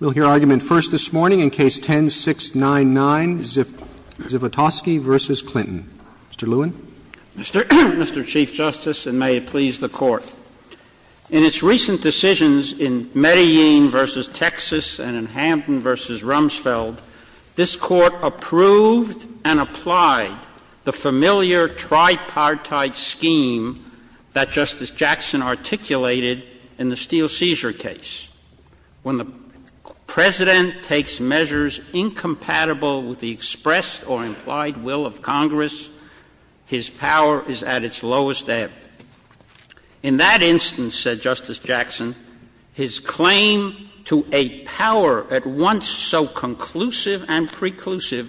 We'll hear argument first this morning in Case 10-699, Zivotofsky v. Clinton. Mr. Lewin. Mr. Chief Justice, and may it please the Court, in its recent decisions in Medellin v. Texas and in Hampton v. Rumsfeld, this Court approved and applied the familiar tripartite scheme that Justice Jackson articulated in the steel seizure case. When the President takes measures incompatible with the expressed or implied will of Congress, his power is at its lowest ebb. In that instance, said Justice Jackson, his claim to a power at once so conclusive and established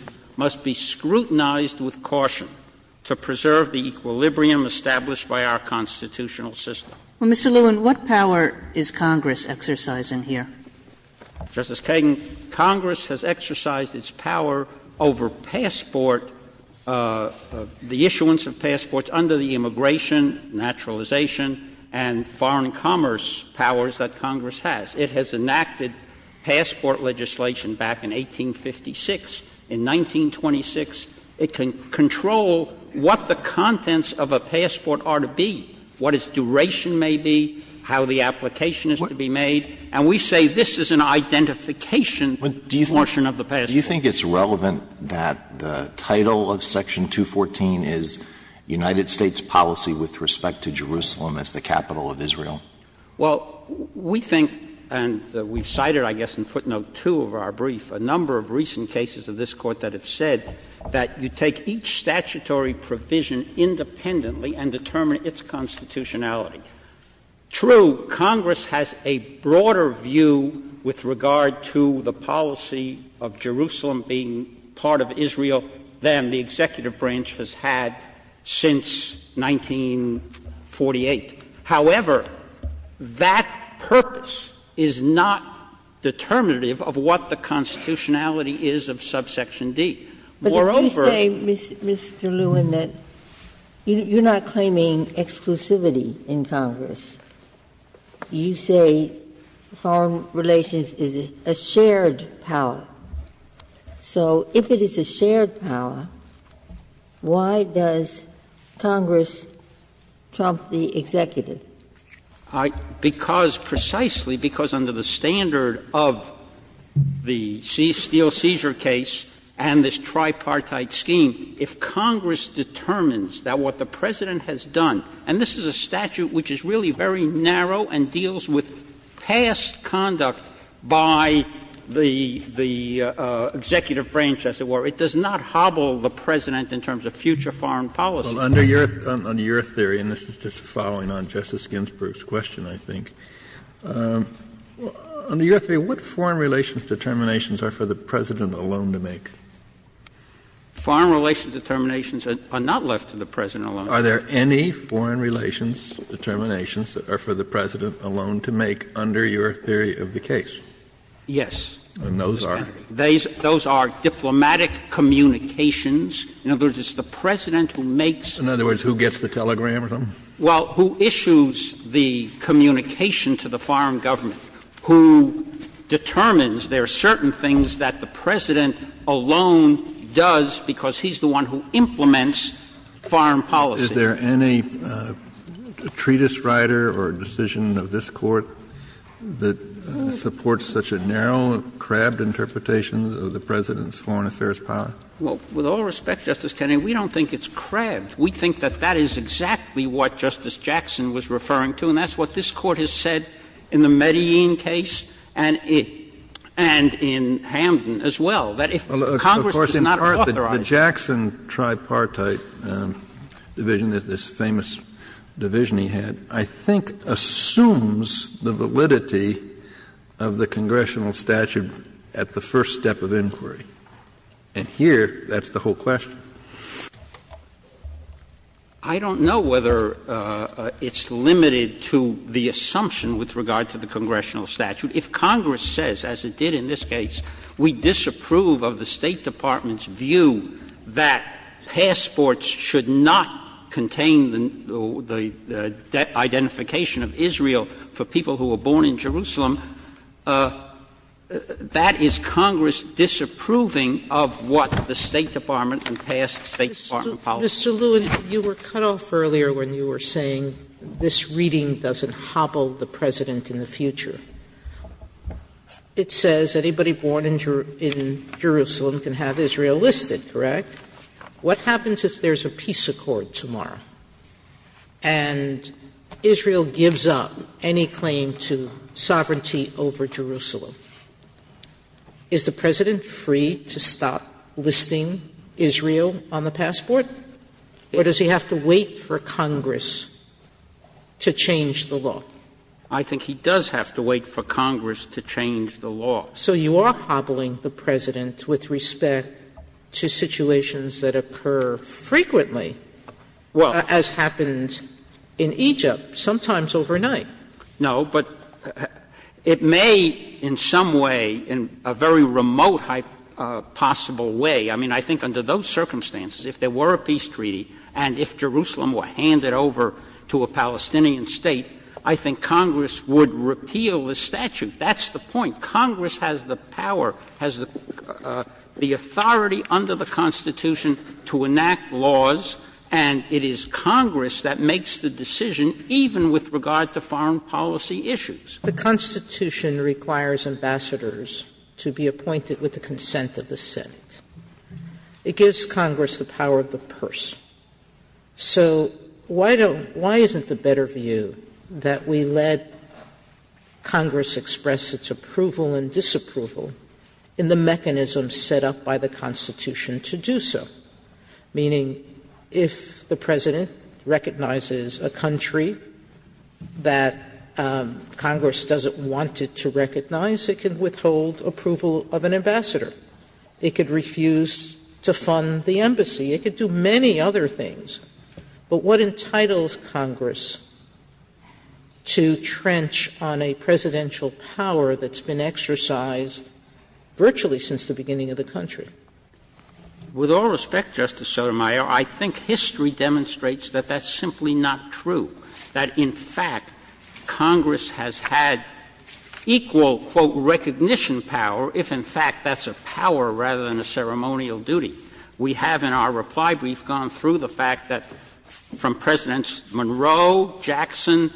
by our constitutional system. Well, Mr. Lewin, what power is Congress exercising here? Justice Kagan, Congress has exercised its power over passport, the issuance of passports under the immigration, naturalization, and foreign commerce powers that Congress has. It has enacted passport legislation back in 1856. In 1926, it can control what the contents of a passport are to be, what its duration may be, how the application is to be made. And we say this is an identification portion of the passport. Do you think it's relevant that the title of Section 214 is United States policy with respect to Jerusalem as the capital of Israel? Well, we think, and we've cited, I guess, in footnote 2 of our brief, a number of recent cases of this Court that have said that you take each statutory provision independently and determine its constitutionality. True, Congress has a broader view with regard to the policy of Jerusalem being part of Israel than the executive branch has had since 1948. However, that purpose is not determinative of what the constitutionality is of subsection D. Moreover — But you say, Mr. Lewin, that you're not claiming exclusivity in Congress. You say foreign relations is a shared power. So if it is a shared power, why does Congress trump the executive? Because precisely because under the standard of the steel seizure case and this tripartite scheme, if Congress determines that what the President has done, and this is a statute which is really very narrow and deals with past conduct by the executive branch, as it were, it does not hobble the President in terms of future foreign policy. Well, under your theory, and this is just following on Justice Ginsburg's question, I think, under your theory, what foreign relations determinations are for the President alone to make? Foreign relations determinations are not left to the President alone. Are there any foreign relations determinations that are for the President alone to make under your theory of the case? Yes. And those are? Those are diplomatic communications. In other words, it's the President who makes— In other words, who gets the telegram or something? Well, who issues the communication to the foreign government, who determines there are certain things that the President alone does because he's the one who implements foreign policy. Is there any treatise writer or decision of this Court that supports such a narrow, crabbed interpretation of the President's foreign affairs power? Well, with all respect, Justice Kennedy, we don't think it's crabbed. We think that that is exactly what Justice Jackson was referring to, and that's what this Court has said in the Medellin case and in Hamden as well, that if Congress does not authorize— The famous division he had, I think, assumes the validity of the congressional statute at the first step of inquiry. And here, that's the whole question. I don't know whether it's limited to the assumption with regard to the congressional statute. If Congress says, as it did in this case, we disapprove of the State Department's view that passports should not contain the identification of Israel for people who were born in Jerusalem, that is Congress disapproving of what the State Department and past State Department policy. Mr. Lewin, you were cut off earlier when you were saying this reading doesn't hobble the President in the future. It says anybody born in Jerusalem can have Israel listed, correct? What happens if there's a peace accord tomorrow and Israel gives up any claim to sovereignty over Jerusalem? Is the President free to stop listing Israel on the passport, or does he have to wait for Congress to change the law? I think he does have to wait for Congress to change the law. So you are hobbling the President with respect to situations that occur frequently, as happened in Egypt, sometimes overnight. No, but it may in some way, in a very remote possible way, I mean, I think under those circumstances, if there were a peace treaty and if Jerusalem were handed over to a Palestinian State, I think Congress would repeal the statute. That's the point. Congress has the power, has the authority under the Constitution to enact laws, and it is Congress that makes the decision, even with regard to foreign policy issues. The Constitution requires ambassadors to be appointed with the consent of the Senate. It gives Congress the power of the purse. So why don't, why isn't the better view that we let Congress express its approval and disapproval in the mechanism set up by the Constitution to do so? Meaning, if the President recognizes a country that Congress doesn't want it to recognize, it can withhold approval of an ambassador. It could refuse to fund the embassy. It could do many other things. But what entitles Congress to trench on a presidential power that's been exercised virtually since the beginning of the country? With all respect, Justice Sotomayor, I think history demonstrates that that's simply not true, that in fact Congress has had equal, quote, recognition power, if in fact that's a power rather than a ceremonial duty. We have in our reply brief gone through the fact that from Presidents Monroe, Jackson,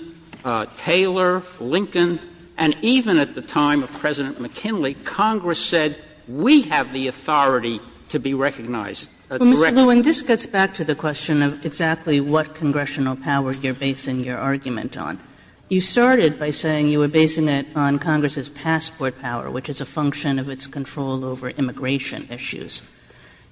Taylor, Lincoln, and even at the time of President McKinley, Congress said we have the authority to be recognized, or recognized. Kagan, this gets back to the question of exactly what congressional power you're basing your argument on. You started by saying you were basing it on Congress's passport power, which is a function of its control over immigration issues.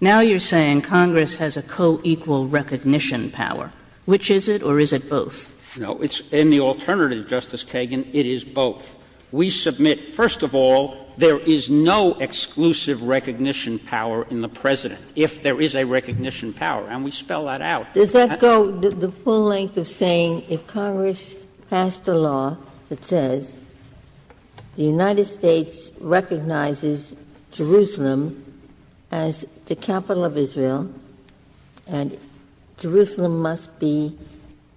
Now you're saying Congress has a co-equal recognition power. Which is it, or is it both? No, in the alternative, Justice Kagan, it is both. We submit, first of all, there is no exclusive recognition power in the President, if there is a recognition power, and we spell that out. Does that go the full length of saying if Congress passed a law that says the United States recognizes Jerusalem as the capital of Israel, and Jerusalem must be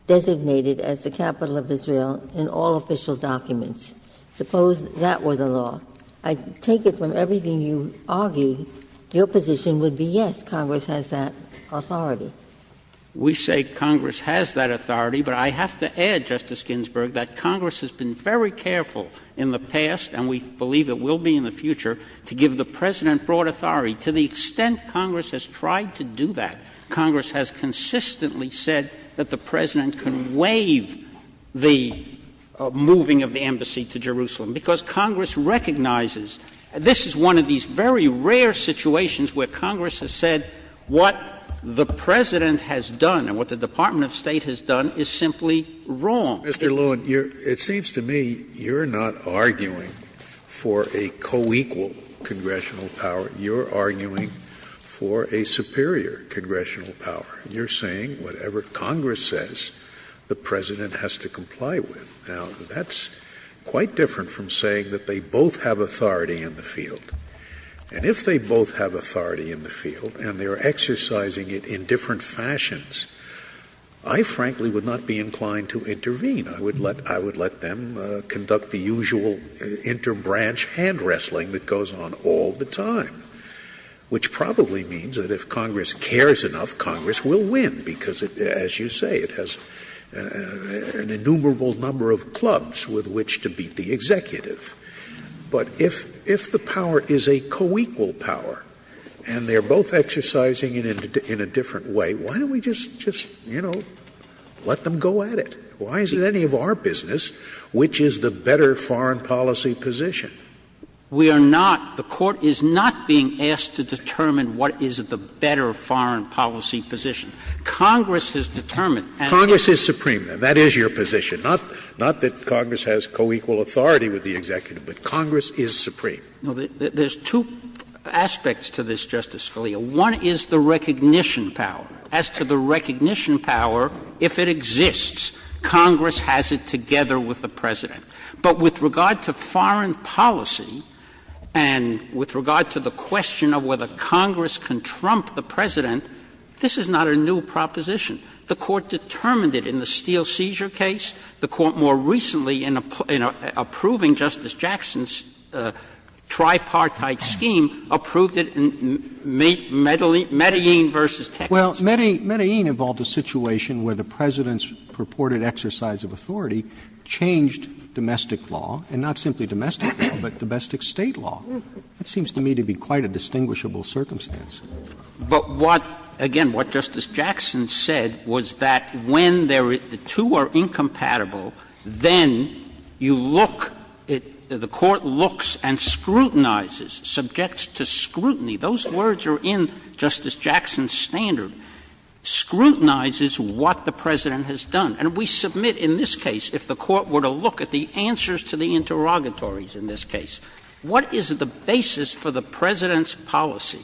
designated as the capital of Israel in all official documents, suppose that were the law, I take it from everything you argued, your position would be yes, Congress has that authority. Well, we say Congress has that authority, but I have to add, Justice Ginsburg, that Congress has been very careful in the past, and we believe it will be in the future, to give the President broad authority. To the extent Congress has tried to do that, Congress has consistently said that the President can waive the moving of the embassy to Jerusalem, because Congress recognizes this is one of these very rare situations where Congress has said what the President has done and what the Department of State has done is simply wrong. Mr. Lewin, it seems to me you're not arguing for a co-equal congressional power, you're arguing for a superior congressional power. You're saying whatever Congress says, the President has to comply with. Now, that's quite different from saying that they both have authority in the field. And if they both have authority in the field and they're exercising it in different fashions, I frankly would not be inclined to intervene. I would let them conduct the usual interbranch hand wrestling that goes on all the time, which probably means that if Congress cares enough, Congress will win, because as you say, it has an innumerable number of clubs with which to beat the executive. But if the power is a co-equal power and they're both exercising it in a different way, why don't we just, you know, let them go at it? Why is it any of our business which is the better foreign policy position? We are not. The Court is not being asked to determine what is the better foreign policy position. Congress has determined and they Congress is supreme, then. That is your position. Not that Congress has co-equal authority with the executive, but Congress is supreme. No, there's two aspects to this, Justice Scalia. One is the recognition power. As to the recognition power, if it exists, Congress has it together with the President. But with regard to foreign policy and with regard to the question of whether Congress can trump the President, this is not a new proposition. The Court determined it in the steel seizure case. The Court more recently in approving Justice Jackson's tripartite scheme approved it in Medellin v. Texas. Roberts. Well, Medellin involved a situation where the President's purported exercise of authority changed domestic law, and not simply domestic law, but domestic State law. That seems to me to be quite a distinguishable circumstance. But what, again, what Justice Jackson said was that when the two are incompatible, then you look, the Court looks and scrutinizes, subjects to scrutiny. Those words are in Justice Jackson's standard. Scrutinizes what the President has done. And we submit in this case, if the Court were to look at the answers to the interrogatories in this case, what is the basis for the President's policy?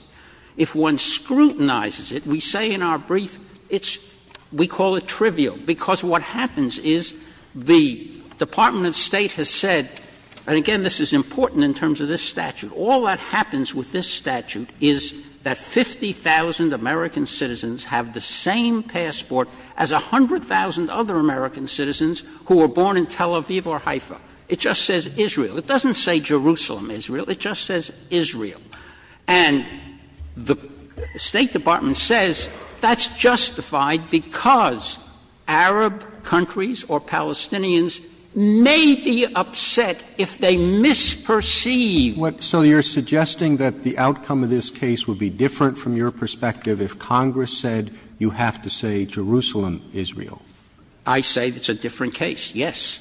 If one scrutinizes it, we say in our brief it's, we call it trivial, because what happens is the Department of State has said, and again, this is important in terms of this statute, all that happens with this statute is that 50,000 American citizens have the same passport as 100,000 other American citizens who were born in Tel Aviv or Haifa. It just says Israel. It doesn't say Jerusalem, Israel. It just says Israel. And the State Department says that's justified because Arab countries or Palestinians may be upset if they misperceive. Roberts. So you're suggesting that the outcome of this case would be different from your perspective if Congress said you have to say Jerusalem, Israel? I say it's a different case, yes.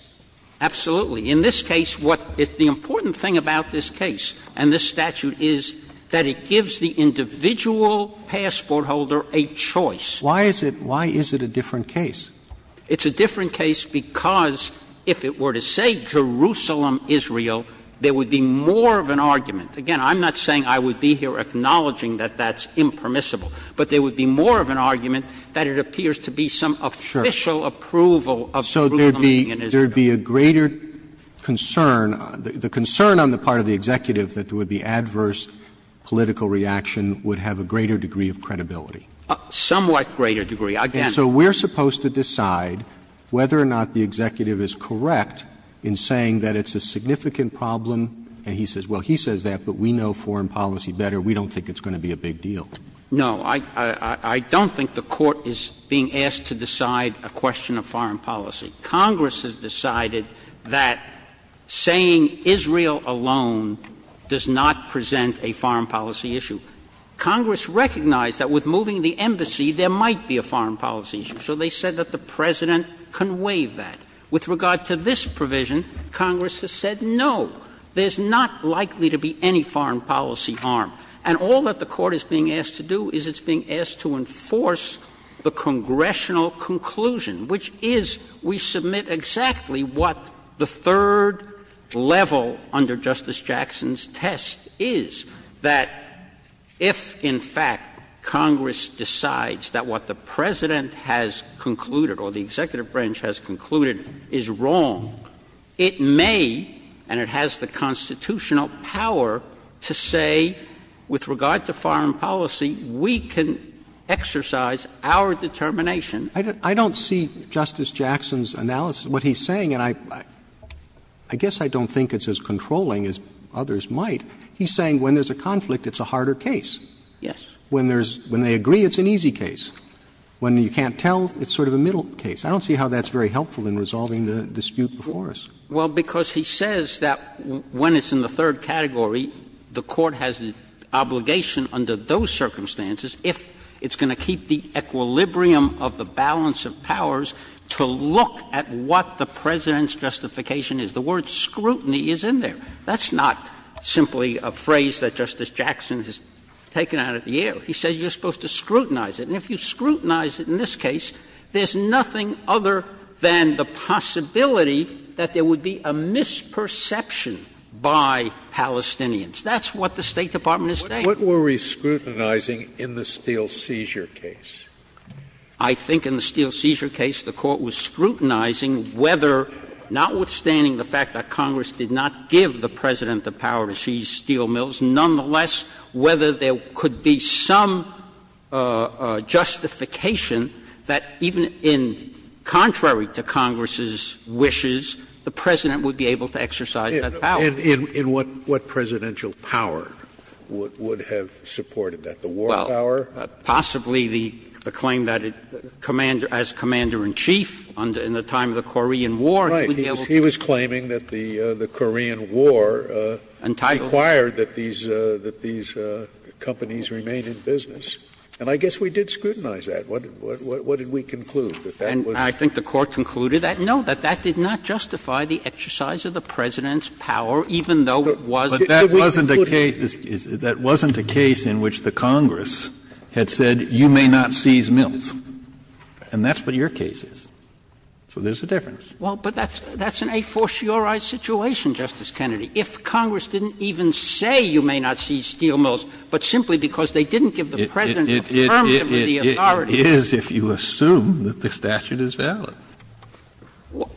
Absolutely. In this case, what is the important thing about this case and this statute is that it gives the individual passport holder a choice. Why is it a different case? It's a different case because if it were to say Jerusalem, Israel, there would be more of an argument. Again, I'm not saying I would be here acknowledging that that's impermissible, but there would be more of an argument that it appears to be some official approval of Jerusalem, Israel. There would be a greater concern, the concern on the part of the executive that there would be adverse political reaction would have a greater degree of credibility. Somewhat greater degree, again. And so we're supposed to decide whether or not the executive is correct in saying that it's a significant problem. And he says, well, he says that, but we know foreign policy better. We don't think it's going to be a big deal. No. I don't think the Court is being asked to decide a question of foreign policy. Congress has decided that saying Israel alone does not present a foreign policy issue. Congress recognized that with moving the embassy, there might be a foreign policy issue. So they said that the President can waive that. With regard to this provision, Congress has said, no, there's not likely to be any foreign policy harm. And all that the Court is being asked to do is it's being asked to enforce the congressional conclusion, which is we submit exactly what the third level under Justice Jackson's test is, that if, in fact, Congress decides that what the President has concluded or the executive branch has concluded is wrong, it may, and it has the constitutional power to say, with regard to foreign policy, we can exercise our determination. Roberts I don't see Justice Jackson's analysis. What he's saying, and I guess I don't think it's as controlling as others might. He's saying when there's a conflict, it's a harder case. Yes. When there's — when they agree, it's an easy case. When you can't tell, it's sort of a middle case. I don't see how that's very helpful in resolving the dispute before us. Well, because he says that when it's in the third category, the Court has the obligation under those circumstances, if it's going to keep the equilibrium of the balance of powers, to look at what the President's justification is. The word scrutiny is in there. That's not simply a phrase that Justice Jackson has taken out of the air. He says you're supposed to scrutinize it. And if you scrutinize it in this case, there's nothing other than the possibility that there would be a misperception by Palestinians. That's what the State Department is saying. What were we scrutinizing in the steel seizure case? I think in the steel seizure case, the Court was scrutinizing whether, notwithstanding the fact that Congress did not give the President the power to seize steel mills, nonetheless, whether there could be some justification that even in — contrary to Congress's wishes, the President would be able to exercise that power. And in what presidential power would have supported that? The war power? Possibly the claim that as Commander-in-Chief in the time of the Korean War. Right. He was claiming that the Korean War required that these companies remain in business. And I guess we did scrutinize that. What did we conclude? I think the Court concluded that, no, that that did not justify the exercise of the President's power, even though it was — But that wasn't a case — that wasn't a case in which the Congress had said, you may not seize mills. And that's what your case is. So there's a difference. Well, but that's an a fortiori situation, Justice Kennedy. If Congress didn't even say you may not seize steel mills, but simply because they didn't give the President the terms of the authority — It is if you assume that the statute is valid.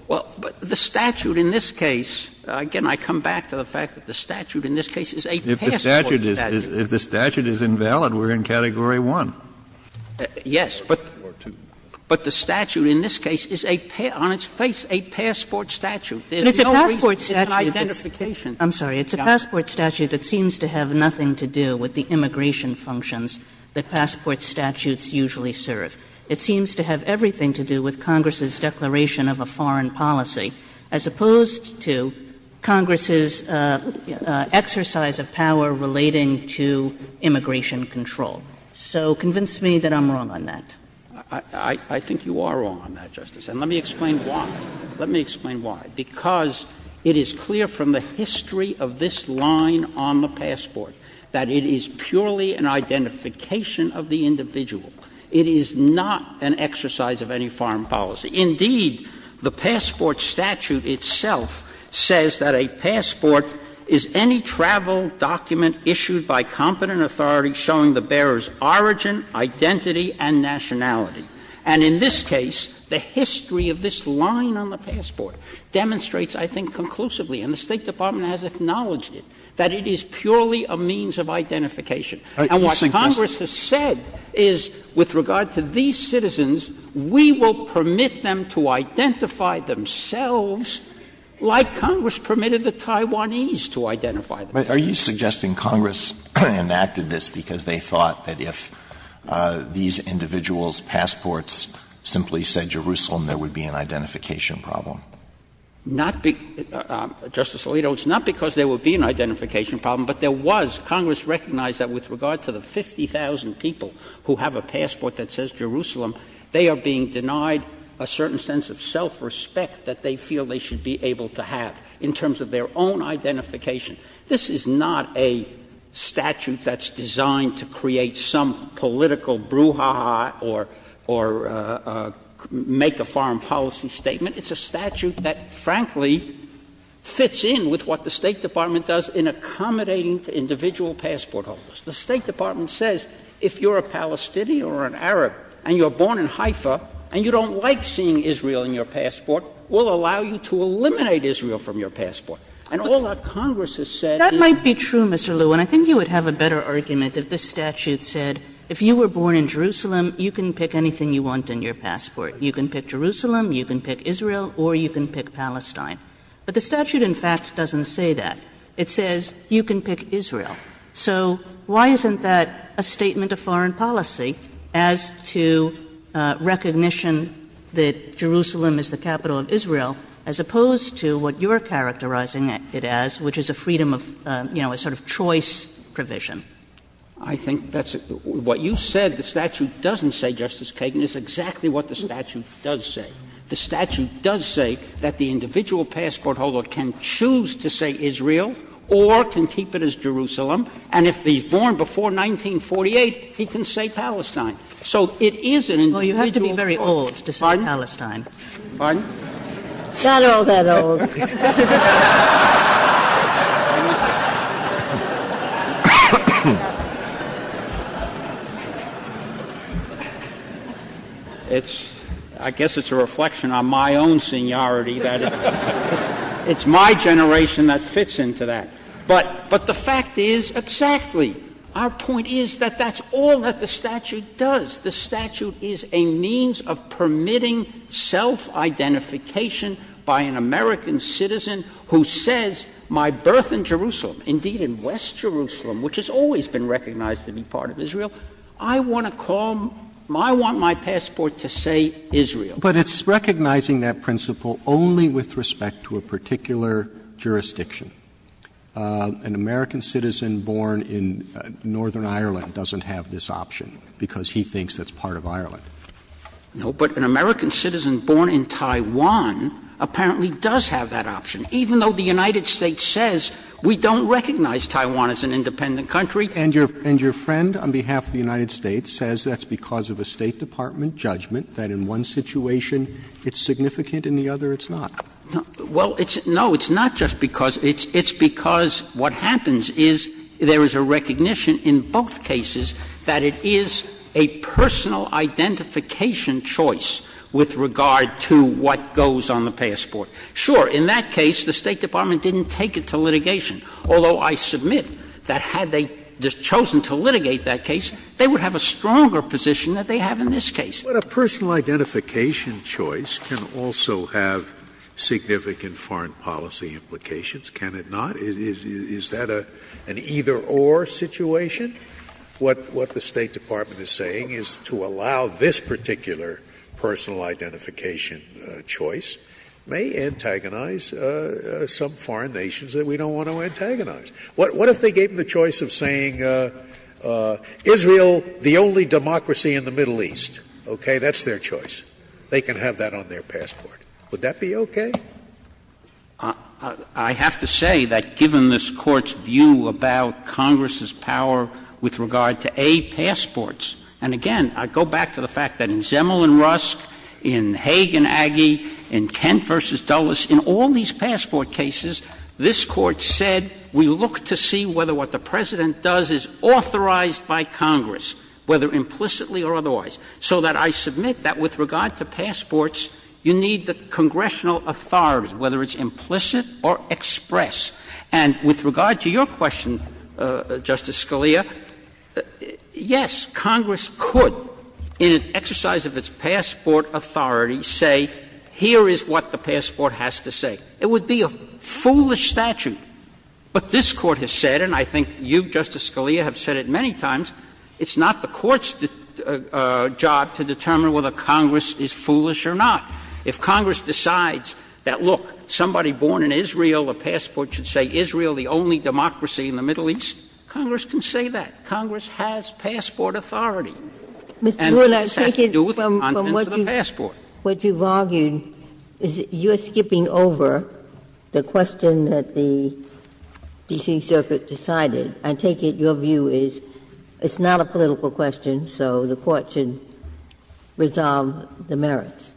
Well, but the statute in this case — again, I come back to the fact that the statute in this case is a passport statute. If the statute is — if the statute is invalid, we're in Category 1. Yes, but — Or 2. But the statute in this case is a — on its face, a passport statute. There's no reason — But it's a passport statute. It's an identification. I'm sorry. It's a passport statute that seems to have nothing to do with the immigration functions that passport statutes usually serve. It seems to have everything to do with Congress's declaration of a foreign policy as opposed to Congress's exercise of power relating to immigration control. So convince me that I'm wrong on that. I think you are wrong on that, Justice. And let me explain why. Let me explain why. Because it is clear from the history of this line on the passport that it is purely an identification of the individual. It is not an exercise of any foreign policy. Indeed, the passport statute itself says that a passport is any travel document issued by competent authority showing the bearer's origin, identity, and nationality. And in this case, the history of this line on the passport demonstrates, I think, conclusively, and the State Department has acknowledged it, that it is purely a means of identification. And what Congress has said is, with regard to these citizens, we will permit them to identify themselves like Congress permitted the Taiwanese to identify themselves. But are you suggesting Congress enacted this because they thought that if these individuals' passports simply said Jerusalem, there would be an identification problem? Not because — Justice Alito, it's not because there would be an identification problem, but there was. Congress recognized that with regard to the 50,000 people who have a passport that says Jerusalem, they are being denied a certain sense of self-respect that they feel they should be able to have in terms of their own identification. This is not a statute that's designed to create some political brouhaha or make a foreign policy statement. It's a statute that, frankly, fits in with what the State Department does in accommodating to individual passport holders. The State Department says if you're a Palestinian or an Arab and you're born in Haifa and you don't like seeing Israel in your passport, we'll allow you to eliminate Israel from your passport. And all that Congress has said is — That might be true, Mr. Lew. And I think you would have a better argument if this statute said if you were born in Jerusalem, you can pick anything you want in your passport. You can pick Jerusalem, you can pick Israel, or you can pick Palestine. But the statute, in fact, doesn't say that. It says you can pick Israel. So why isn't that a statement of foreign policy as to recognition that Jerusalem is the capital of Israel, as opposed to what you're characterizing it as, which is a freedom of, you know, a sort of choice provision? I think that's — what you said the statute doesn't say, Justice Kagan, is exactly what the statute does say. The statute does say that the individual passport holder can choose to say Israel or can keep it as Jerusalem. And if he's born before 1948, he can say Palestine. So it is an individual passport holder. Well, you have to be very old to say Palestine. Pardon? Pardon? Not all that old. It's — I guess it's a reflection on my own seniority that it's my generation that fits into that. But the fact is exactly. Our point is that that's all that the statute does. The statute is a means of permitting self-identification by an American citizen who says, my birth in Jerusalem, indeed in West Jerusalem, which has always been recognized to be part of Israel, I want to call — I want my passport to say Israel. But it's recognizing that principle only with respect to a particular jurisdiction. An American citizen born in Northern Ireland doesn't have this option because he thinks that's part of Ireland. No, but an American citizen born in Taiwan apparently does have that option, even though the United States says we don't recognize Taiwan as an independent country. And your friend on behalf of the United States says that's because of a State Department judgment that in one situation it's significant, in the other it's not. Well, it's — no, it's not just because — it's because what happens is there is a recognition in both cases that it is a personal identification choice with regard to what goes on the passport. Sure, in that case the State Department didn't take it to litigation, although I submit that had they chosen to litigate that case, they would have a stronger position that they have in this case. But a personal identification choice can also have significant foreign policy implications, can it not? Is that an either-or situation? What the State Department is saying is to allow this particular personal identification choice may antagonize some foreign nations that we don't want to antagonize. What if they gave them the choice of saying, Israel, the only democracy in the Middle East? Okay, that's their choice. They can have that on their passport. Would that be okay? I have to say that given this Court's view about Congress's power with regard to A, passports, and again, I go back to the fact that in Zemel and Rusk, in Hague and Aggie, in Kent v. Dulles, in all these passport cases, this Court said we look to see whether what the President does is authorized by Congress, whether implicitly or otherwise. So that I submit that with regard to passports, you need the congressional authority, whether it's implicit or express. And with regard to your question, Justice Scalia, yes, Congress could, in an exercise of its passport authority, say here is what the passport has to say. It would be a foolish statute. But this Court has said, and I think you, Justice Scalia, have said it many times, it's not the Court's job to determine whether Congress is foolish or not. If Congress decides that, look, somebody born in Israel, a passport should say Israel the only democracy in the Middle East, Congress can say that. Congress has passport authority. And this has to do with the contents of the passport. Ginsburg. What you've argued is you're skipping over the question that the D.C. Circuit decided. I take it your view is it's not a political question, so the Court should resolve the merits.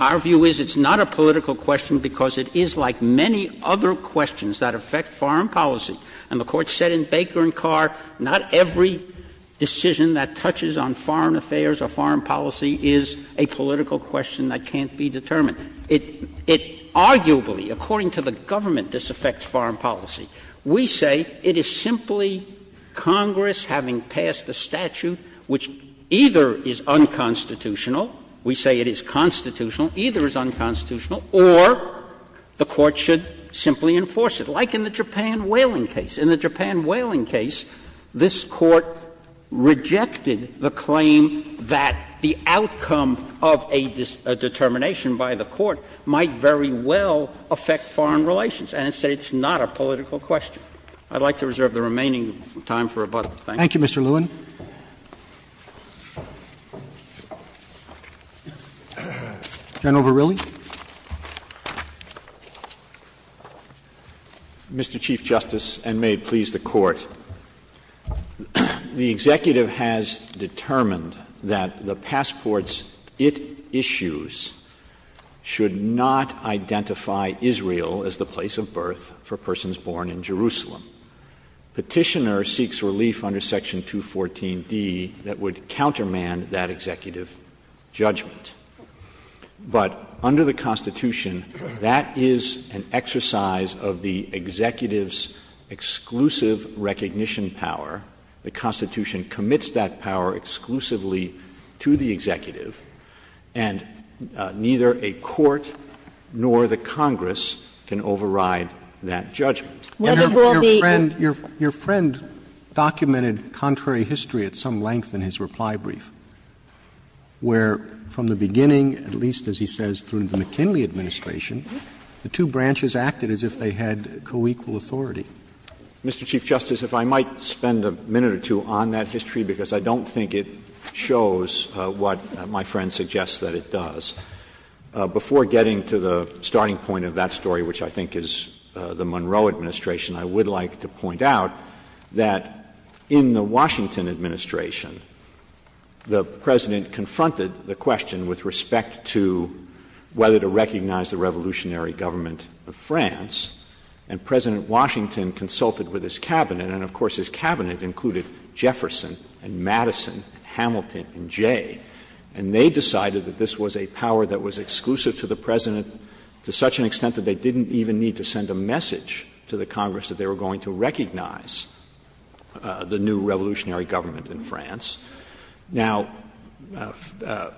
Our view is it's not a political question because it is like many other questions that affect foreign policy. And the Court said in Baker and Carr, not every decision that touches on foreign affairs or foreign policy is a political question that can't be determined. It arguably, according to the government, disaffects foreign policy. We say it is simply Congress having passed a statute which either is unconstitutional — we say it is constitutional — either is unconstitutional, or the Court should simply enforce it, like in the Japan whaling case. In the Japan whaling case, this Court rejected the claim that the outcome of a determination by the Court might very well affect foreign relations, and it said it's not a political question. I'd like to reserve the remaining time for rebuttal. Thank you. Thank you, Mr. Lewin. General Verrilli. Mr. Chief Justice, and may it please the Court, the Executive has determined that the passport's issues should not identify Israel as the place of birth for persons born in Jerusalem. Petitioner seeks relief under Section 214d that would countermand that executive judgment. But under the Constitution, that is an exercise of the Executive's exclusive recognition power. The Constitution commits that power exclusively to the Executive, and neither a court nor the Congress can override that judgment. Your friend documented contrary history at some length in his reply brief, where from the beginning, at least as he says, through the McKinley administration, the two branches acted as if they had co-equal authority. Mr. Chief Justice, if I might spend a minute or two on that history, because I don't think it shows what my friend suggests that it does. Before getting to the starting point of that story, which I think is the Monroe administration, I would like to point out that in the Washington administration the President confronted the question with respect to whether to recognize the revolutionary government of France, and President Washington consulted with his cabinet. And of course, his cabinet included Jefferson and Madison, Hamilton and Jay. And they decided that this was a power that was exclusive to the President to such an extent that they didn't even need to send a message to the Congress that they were going to recognize the new revolutionary government in France. Now, the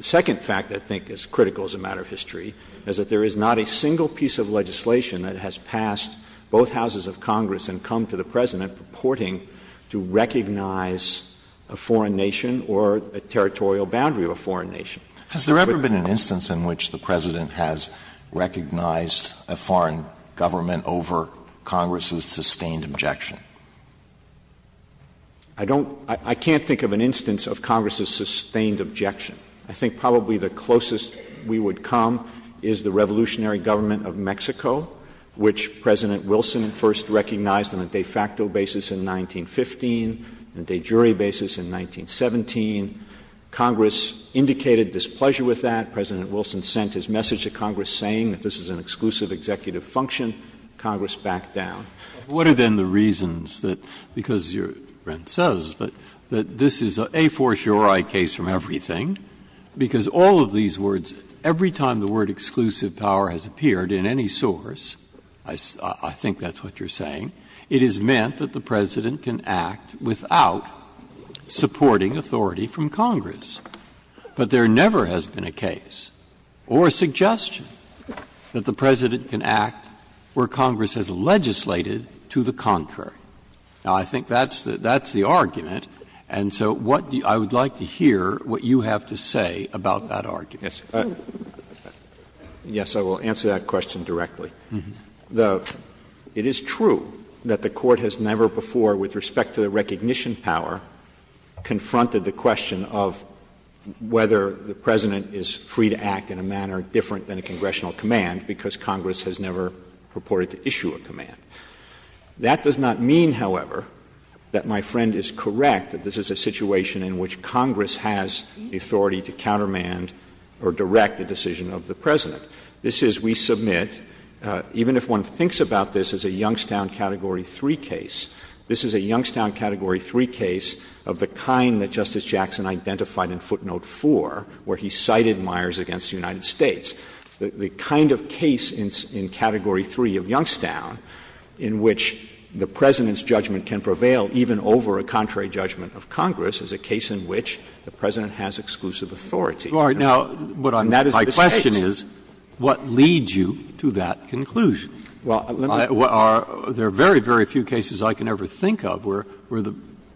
second fact that I think is critical as a matter of history is that there is not a single piece of legislation that has passed both houses of Congress and come to the President purporting to recognize a foreign nation or a territorial boundary of a foreign nation. Alito, has there ever been an instance in which the President has recognized a foreign government over Congress's sustained objection? I don't — I can't think of an instance of Congress's sustained objection. I think probably the closest we would come is the revolutionary government of Mexico, which President Wilson first recognized on a de facto basis in 1915, on a de jure basis in 1917. Congress indicated displeasure with that. President Wilson sent his message to Congress saying that this is an exclusive executive function. Congress backed down. Breyer. Breyer. What are then the reasons that — because you're — Brent says that this is a force-your-eye case from everything, because all of these words, every time the word exclusive power has appeared in any source, I think that's what you're saying, it has meant that the President can act without supporting authority from Congress. But there never has been a case or a suggestion that the President can act where Congress has legislated to the contrary. Now, I think that's the argument. And so what — I would like to hear what you have to say about that argument. Verrilli, yes, I will answer that question directly. It is true that the Court has never before, with respect to the recognition power, confronted the question of whether the President is free to act in a manner different than a congressional command, because Congress has never purported to issue a command. That does not mean, however, that my friend is correct that this is a situation in which Congress has the authority to countermand or direct the decision of the President. This is, we submit, even if one thinks about this as a Youngstown Category 3 case, this is a Youngstown Category 3 case of the kind that Justice Jackson identified in footnote 4, where he cited Myers v. United States, the kind of case in Category 3 of Youngstown in which the President's judgment can prevail even over a contrary judgment of Congress as a case in which the President has exclusive authority. And that is the case. Breyer, my question is, what leads you to that conclusion? There are very, very few cases I can ever think of where the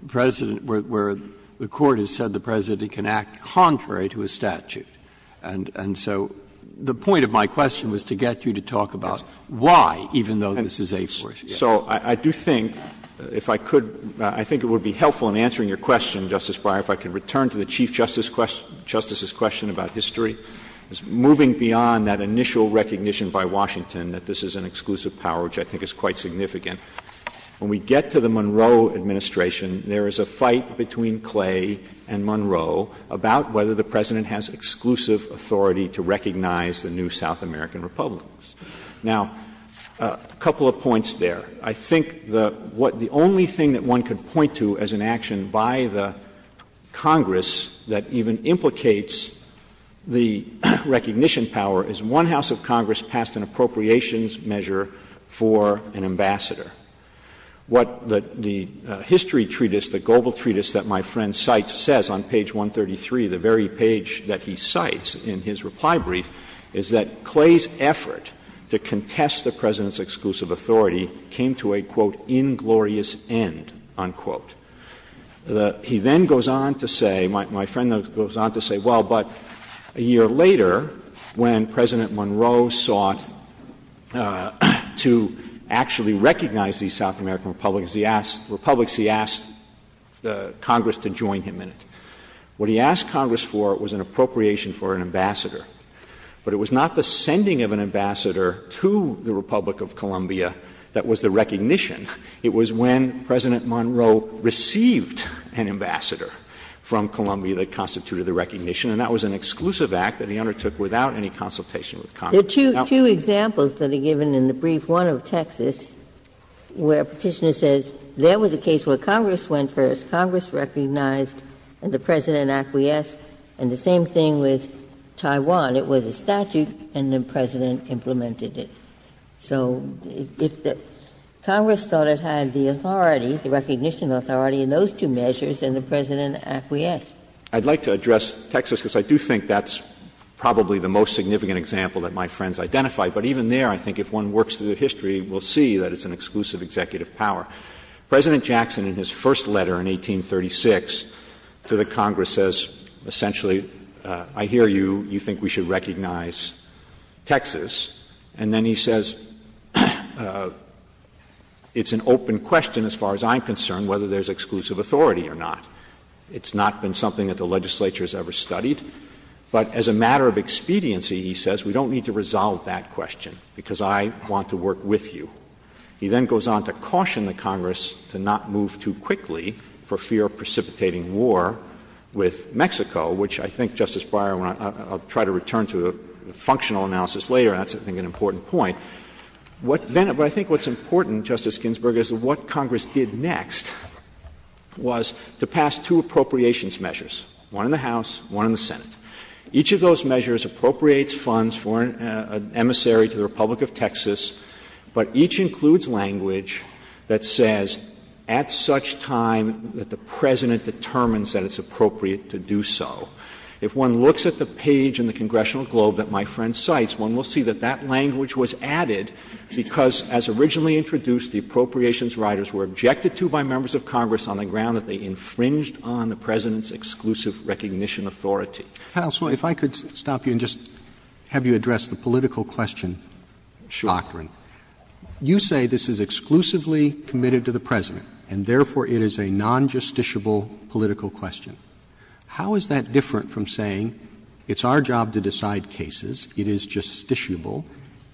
President — where the Court has said the President can act contrary to a statute. And so the point of my question was to get you to talk about why, even though this is a force. So I do think, if I could — I think it would be helpful in answering your question, Justice Breyer, if I could return to the Chief Justice's question about history. It's moving beyond that initial recognition by Washington that this is an exclusive power, which I think is quite significant. When we get to the Monroe administration, there is a fight between Clay and Monroe about whether the President has exclusive authority to recognize the new South American republics. Now, a couple of points there. I think the — what the only thing that one could point to as an action by the Congress that even implicates the recognition power is one House of Congress passed an appropriations measure for an ambassador. What the history treatise, the global treatise that my friend cites says on page 133, the very page that he cites in his reply brief, is that Clay's effort to contest the President's exclusive authority came to a, quote, inglorious end, unquote. He then goes on to say — my friend goes on to say, well, but a year later, when President Monroe sought to actually recognize these South American republics, he asked the Congress to join him in it. What he asked Congress for was an appropriation for an ambassador. But it was not the sending of an ambassador to the Republic of Columbia that was the recognition. It was when President Monroe received an ambassador from Columbia that constituted the recognition. And that was an exclusive act that he undertook without any consultation with Congress. Ginsburg. There are two examples that are given in the brief. One of Texas, where Petitioner says there was a case where Congress went first. Congress recognized and the President acquiesced. And the same thing with Taiwan. It was a statute and the President implemented it. So if the Congress thought it had the authority, the recognition authority in those two measures, then the President acquiesced. I'd like to address Texas, because I do think that's probably the most significant example that my friends identified. But even there, I think if one works through history, we'll see that it's an exclusive executive power. President Jackson in his first letter in 1836 to the Congress says essentially I hear you, you think we should recognize Texas. And then he says it's an open question as far as I'm concerned whether there's exclusive authority or not. It's not been something that the legislature has ever studied. But as a matter of expediency, he says, we don't need to resolve that question because I want to work with you. He then goes on to caution the Congress to not move too quickly for fear of precipitating war with Mexico, which I think, Justice Breyer, I'll try to return to a functional analysis later, and that's, I think, an important point. But I think what's important, Justice Ginsburg, is what Congress did next was to pass two appropriations measures, one in the House, one in the Senate. Each of those measures appropriates funds for an emissary to the Republic of Texas, but each includes language that says at such time that the President determines that it's appropriate to do so. If one looks at the page in the Congressional Globe that my friend cites, one will see that that language was added because as originally introduced, the appropriations riders were objected to by members of Congress on the ground that they infringed on the President's exclusive recognition authority. Roberts, if I could stop you and just have you address the political question of the doctrine. Roberts, you say this is exclusively committed to the President and, therefore, it is a non-justiciable political question. How is that different from saying it's our job to decide cases, it is justiciable,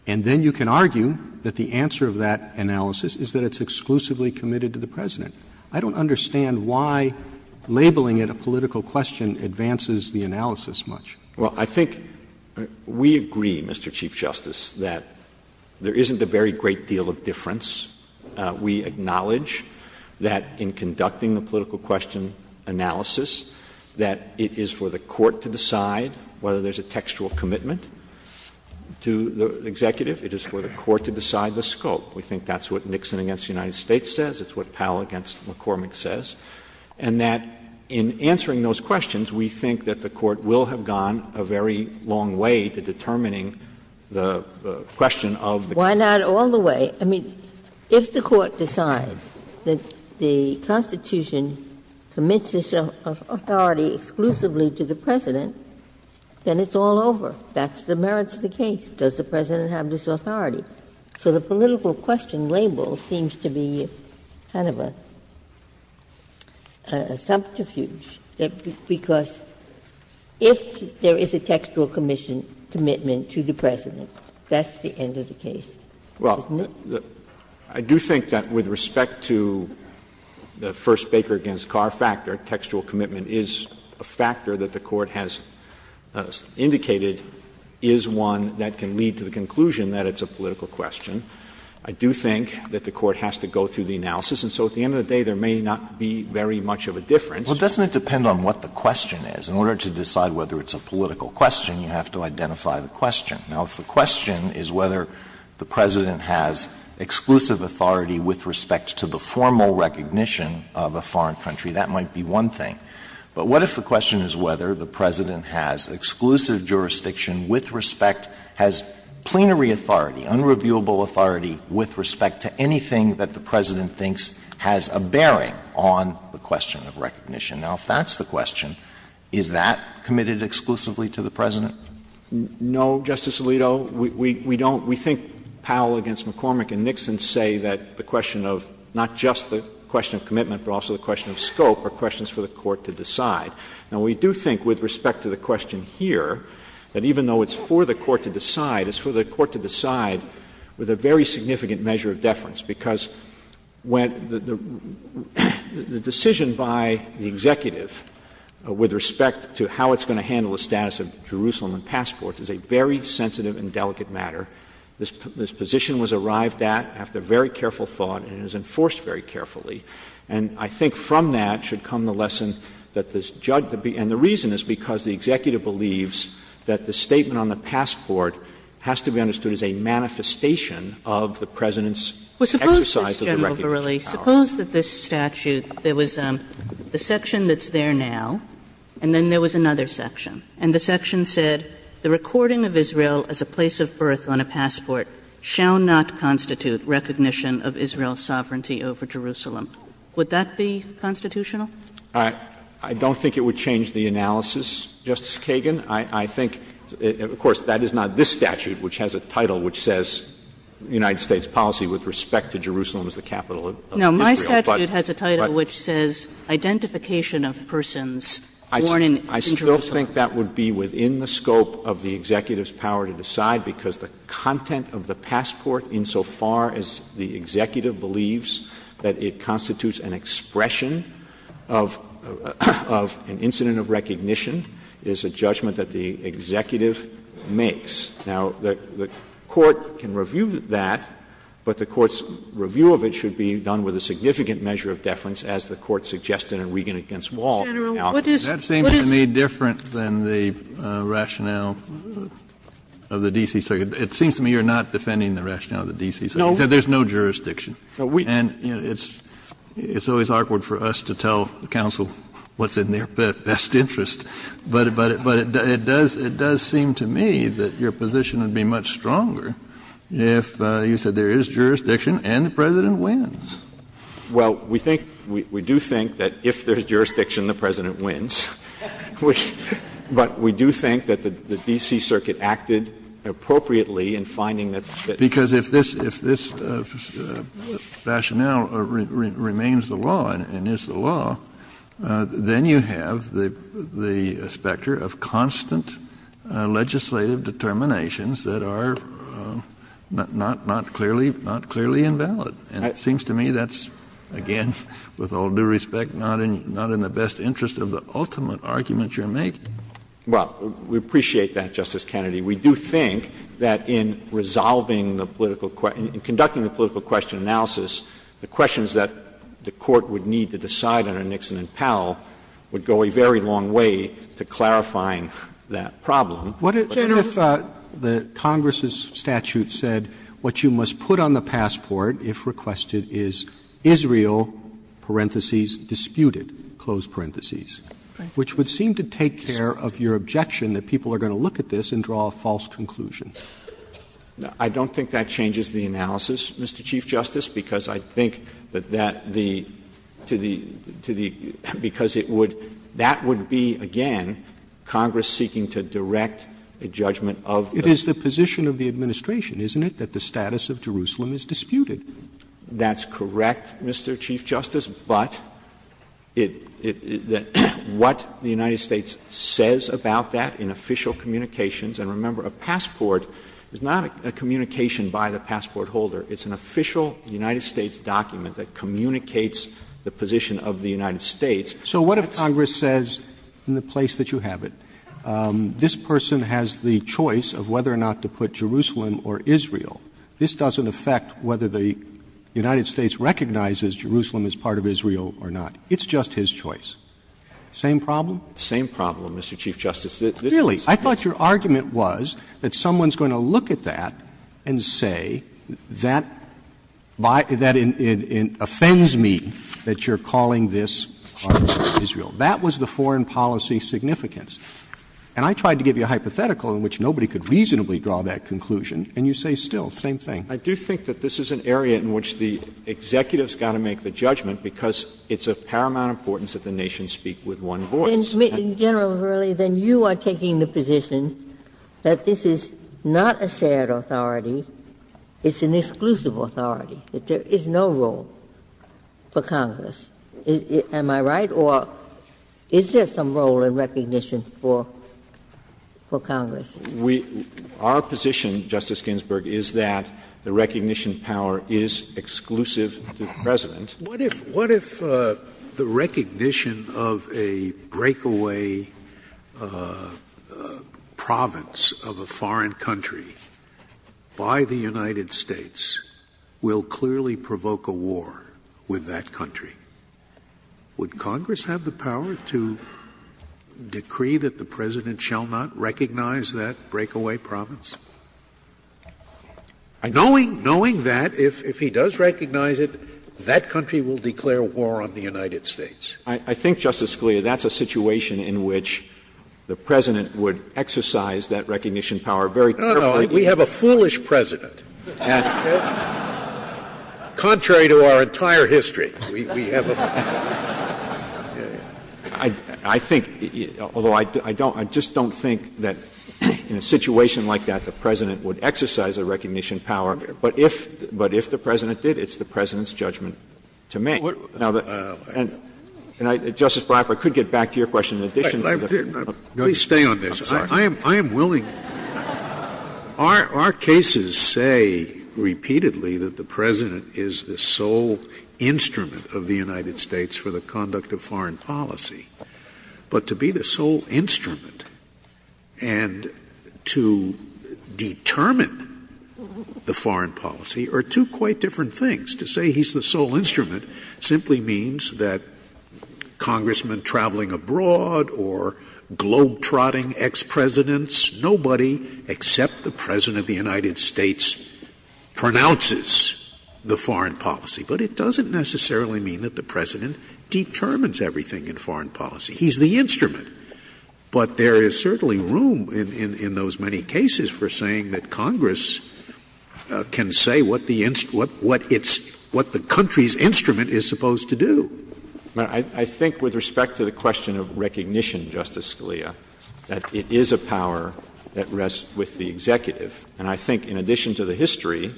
and then you can argue that the answer of that analysis is that it's exclusively committed to the President? I don't understand why labeling it a political question advances the analysis much. Verrilli, Jr. Well, I think we agree, Mr. Chief Justice, that there isn't a very great deal of difference. We acknowledge that in conducting the political question analysis, that it is for the executive, it is for the Court to decide the scope. We think that's what Nixon v. United States says. It's what Powell v. McCormick says. And that in answering those questions, we think that the Court will have gone a very long way to determining the question of the case. Ginsburg. Why not all the way? I mean, if the Court decides that the Constitution commits this authority exclusively to the President, then it's all over. That's the merits of the case. Does the President have this authority? So the political question label seems to be kind of a subterfuge, because if there is a textual commitment to the President, that's the end of the case, isn't it? Verrilli, Jr. Well, I do think that with respect to the First Baker v. Carr factor, the fact that textual commitment is a factor that the Court has indicated is one that can lead to the conclusion that it's a political question. I do think that the Court has to go through the analysis. And so at the end of the day, there may not be very much of a difference. Alito, Jr. Well, doesn't it depend on what the question is? In order to decide whether it's a political question, you have to identify the question. Now, if the question is whether the President has exclusive authority with respect to the formal recognition of a foreign country, that might be one thing. But what if the question is whether the President has exclusive jurisdiction with respect, has plenary authority, unreviewable authority with respect to anything that the President thinks has a bearing on the question of recognition? Now, if that's the question, is that committed exclusively to the President? Verrilli, Jr. No, Justice Alito. We don't — we think Powell v. McCormick and Nixon say that the question of not just the question of commitment, but also the question of scope are questions for the Court to decide. Now, we do think with respect to the question here that even though it's for the Court to decide, it's for the Court to decide with a very significant measure of deference, because when the decision by the executive with respect to how it's going to handle the status of Jerusalem and passports is a very sensitive and delicate matter. This position was arrived at after very careful thought, and it is enforced very carefully. And I think from that should come the lesson that this — and the reason is because the executive believes that the statement on the passport has to be understood as a manifestation of the President's exercise of the recognition power. Well, suppose, Mr. General Verrilli, suppose that this statute, there was the section that's there now, and then there was another section, and the section said, The recording of Israel as a place of birth on a passport shall not constitute recognition of Israel's sovereignty over Jerusalem. Would that be constitutional? I don't think it would change the analysis, Justice Kagan. I think — of course, that is not this statute, which has a title which says United States policy with respect to Jerusalem as the capital of Israel. But — but — But this statute has a title which says identification of persons born in Jerusalem. I still think that would be within the scope of the executive's power to decide, because the content of the passport, insofar as the executive believes that it constitutes an expression of an incident of recognition, is a judgment that the executive makes. Now, the Court can review that, but the Court's review of it should be done with a significant measure of deference, as the Court suggested in Regan v. Wall. Now, what is — Kennedy, that seems to me different than the rationale of the D.C. Circuit. It seems to me you're not defending the rationale of the D.C. Circuit. You said there's no jurisdiction. And it's always awkward for us to tell counsel what's in their best interest. But it does seem to me that your position would be much stronger if you said there is jurisdiction and the President wins. Well, we think — we do think that if there's jurisdiction, the President wins. But we do think that the D.C. Circuit acted appropriately in finding that the — Because if this — if this rationale remains the law and is the law, then you have the specter of constant legislative determinations that are not clearly — not clearly invalid. And it seems to me that's, again, with all due respect, not in the best interest of the ultimate argument you're making. Well, we appreciate that, Justice Kennedy. We do think that in resolving the political — in conducting the political question analysis, the questions that the Court would need to decide under Nixon and Powell would go a very long way to clarifying that problem. But if the Congress's statute said what you must put on the passport if we're going to have a political question, what you must request it is Israel, parentheses, disputed, close parentheses, which would seem to take care of your objection that people are going to look at this and draw a false conclusion. I don't think that changes the analysis, Mr. Chief Justice, because I think that that the — to the — to the — because it would — that would be, again, Congress seeking to direct a judgment of the — It is the position of the administration, isn't it, that the status of Jerusalem is disputed? That's correct, Mr. Chief Justice. But it — what the United States says about that in official communications — and remember, a passport is not a communication by the passport holder. It's an official United States document that communicates the position of the United States. So what if Congress says, in the place that you have it, this person has the choice of whether or not to put Jerusalem or Israel. This doesn't affect whether the United States recognizes Jerusalem as part of Israel or not. It's just his choice. Same problem? Same problem, Mr. Chief Justice. Really? I thought your argument was that someone's going to look at that and say that by — that it offends me that you're calling this part of Israel. That was the foreign policy significance. And I tried to give you a hypothetical in which nobody could reasonably draw that conclusion, and you say still, same thing. I do think that this is an area in which the executive has got to make the judgment, because it's of paramount importance that the nations speak with one voice. Then, General Verrilli, then you are taking the position that this is not a shared authority. It's an exclusive authority, that there is no role for Congress. Am I right? Or is there some role in recognition for Congress? We — our position, Justice Ginsburg, is that the recognition power is exclusive to the President. Scalia, what if — what if the recognition of a breakaway province of a foreign country by the United States will clearly provoke a war with that country? Would Congress have the power to decree that the President shall not recognize that breakaway province? Knowing that, if he does recognize it, that country will declare war on the United Verrilli, I think, Justice Scalia, that's a situation in which the President would exercise that recognition power very carefully. Scalia, we have a foolish President. Contrary to our entire history, we have a foolish President. Verrilli, I think, although I don't — I just don't think that in a situation like that, the President would exercise a recognition power, but if — but if the President did, it's the President's judgment to make. Now, the — and I — Justice Breyer, if I could get back to your question in addition to the — Scalia, please stay on this. I am — I am willing — Our cases say repeatedly that the President is the sole instrument of the United States for the conduct of foreign policy. But to be the sole instrument and to determine the foreign policy are two quite different things. To say he's the sole instrument simply means that congressmen traveling abroad or globe-trotting ex-Presidents, nobody except the President of the United States pronounces the foreign policy. But it doesn't necessarily mean that the President determines everything in foreign policy. He's the instrument. But there is certainly room in — in those many cases for saying that congress can say what the — what it's — what the country's instrument is supposed to do. I think with respect to the question of recognition, Justice Scalia, that it is a power that rests with the executive. And I think in addition to the history,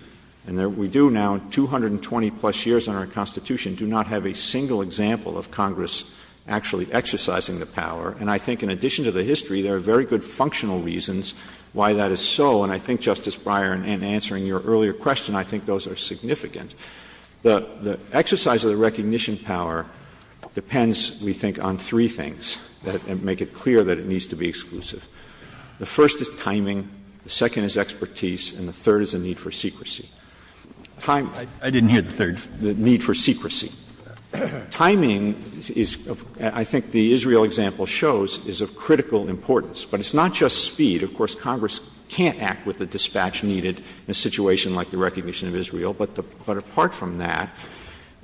and we do now 220-plus years in our Constitution, do not have a single example of Congress actually exercising the power. And I think in addition to the history, there are very good functional reasons why that is so. And I think, Justice Breyer, in answering your earlier question, I think those are significant. The — the exercise of the recognition power depends, we think, on three things that make it clear that it needs to be exclusive. The first is timing. The second is expertise. And the third is a need for secrecy. Time — I didn't hear the third. The need for secrecy. Timing is, I think the Israel example shows, is of critical importance. But it's not just speed. Of course, Congress can't act with the dispatch needed in a situation like the recognition of Israel. But apart from that,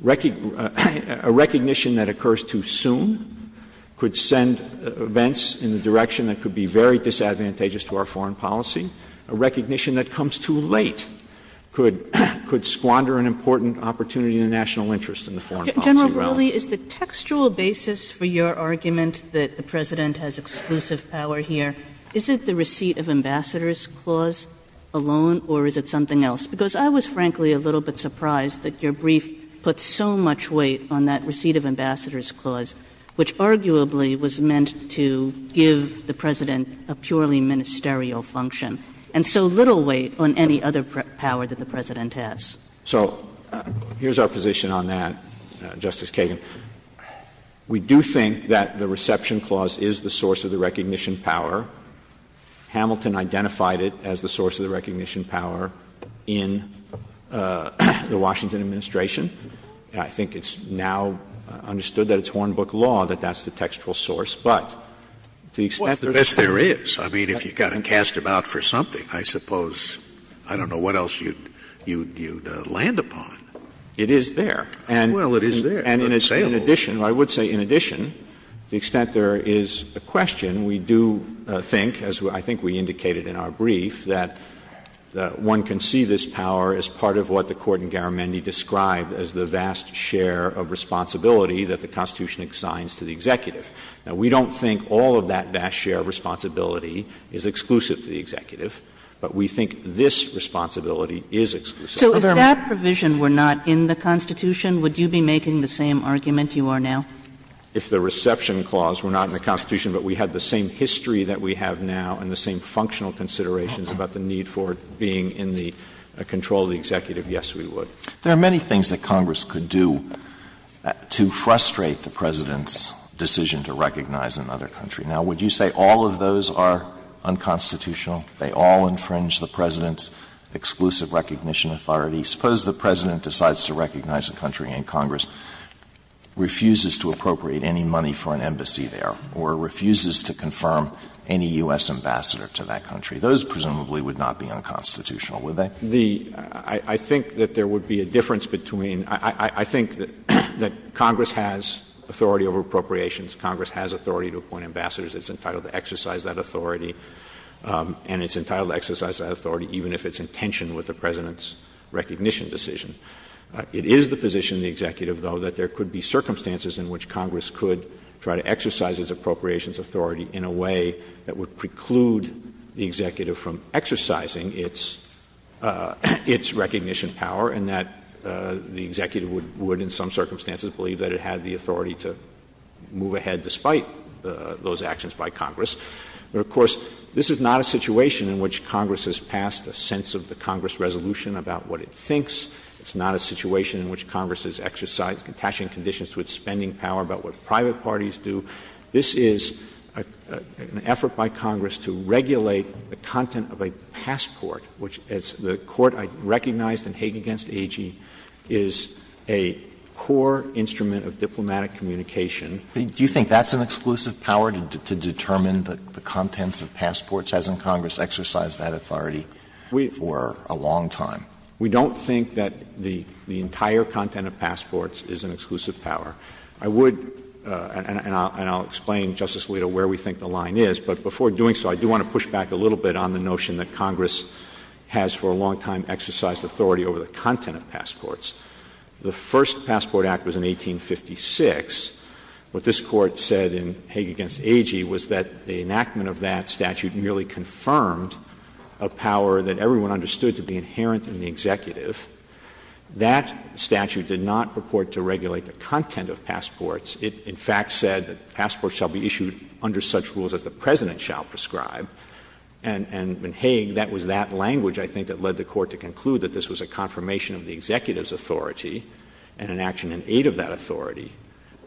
a recognition that occurs too soon could send events in the direction that could be very disadvantageous to our foreign policy. A recognition that comes too late could — could squander an important opportunity in the national interest in the foreign policy realm. Kagan. General Verrilli, is the textual basis for your argument that the President has exclusive power here, is it the receipt of Ambassador's Clause alone, or is it something else? Because I was, frankly, a little bit surprised that your brief put so much weight on that the President has a purely ministerial function, and so little weight on any other power that the President has. Verrilli, So here's our position on that, Justice Kagan. We do think that the reception clause is the source of the recognition power. Hamilton identified it as the source of the recognition power in the Washington administration. I think it's now understood that it's Hornbook law that that's the textual source. But to the extent that there's a— Scalia, Yes, there is. I mean, if you've got to cast him out for something, I suppose, I don't know, what else you'd — you'd — you'd land upon. Verrilli, It is there. Scalia, Well, it is there. Verrilli, And in addition — I would say in addition, to the extent there is a question, we do think, as I think we indicated in our brief, that one can see this power as part of what the Court in Garamendi described as the vast share of responsibility that the Constitution assigns to the executive. Now, we don't think all of that vast share of responsibility is exclusive to the executive, but we think this responsibility is exclusive. Kagan So if that provision were not in the Constitution, would you be making the same argument you are now? Verrilli, If the reception clause were not in the Constitution, but we had the same history that we have now and the same functional considerations about the need for it being in the control of the executive, yes, we would. Alito There are many things that Congress could do to frustrate the President's decision to recognize another country. Now, would you say all of those are unconstitutional? They all infringe the President's exclusive recognition authority? Suppose the President decides to recognize a country and Congress refuses to appropriate any money for an embassy there or refuses to confirm any U.S. ambassador to that country. Those presumably would not be unconstitutional, would they? Verrilli, I think that there would be a difference between — I think that Congress has authority over appropriations. Congress has authority to appoint ambassadors. It's entitled to exercise that authority, and it's entitled to exercise that authority even if it's in tension with the President's recognition decision. It is the position of the executive, though, that there could be circumstances in which Congress could try to exercise its appropriations authority in a way that would preclude the executive from exercising its recognition power, and that the executive would, in some circumstances, believe that it had the authority to move ahead despite those actions by Congress. Of course, this is not a situation in which Congress has passed a sense of the Congress' resolution about what it thinks. It's not a situation in which Congress has exercised contention conditions to its spending power about what private parties do. This is an effort by Congress to regulate the content of a passport, which, as the Court recognized in Hague v. AG, is a core instrument of diplomatic communication. Alito, do you think that's an exclusive power, to determine the contents of passports? Hasn't Congress exercised that authority for a long time? We don't think that the entire content of passports is an exclusive power. I would, and I'll explain, Justice Alito, where we think the line is, but before doing so, I do want to push back a little bit on the notion that Congress has for a long time exercised authority over the content of passports. The first Passport Act was in 1856. What this Court said in Hague v. AG was that the enactment of that statute nearly confirmed a power that everyone understood to be inherent in the executive. That statute did not purport to regulate the content of passports. It, in fact, said that passports shall be issued under such rules as the President shall prescribe. And in Hague, that was that language, I think, that led the Court to conclude that this was a confirmation of the executive's authority and an action in aid of that authority.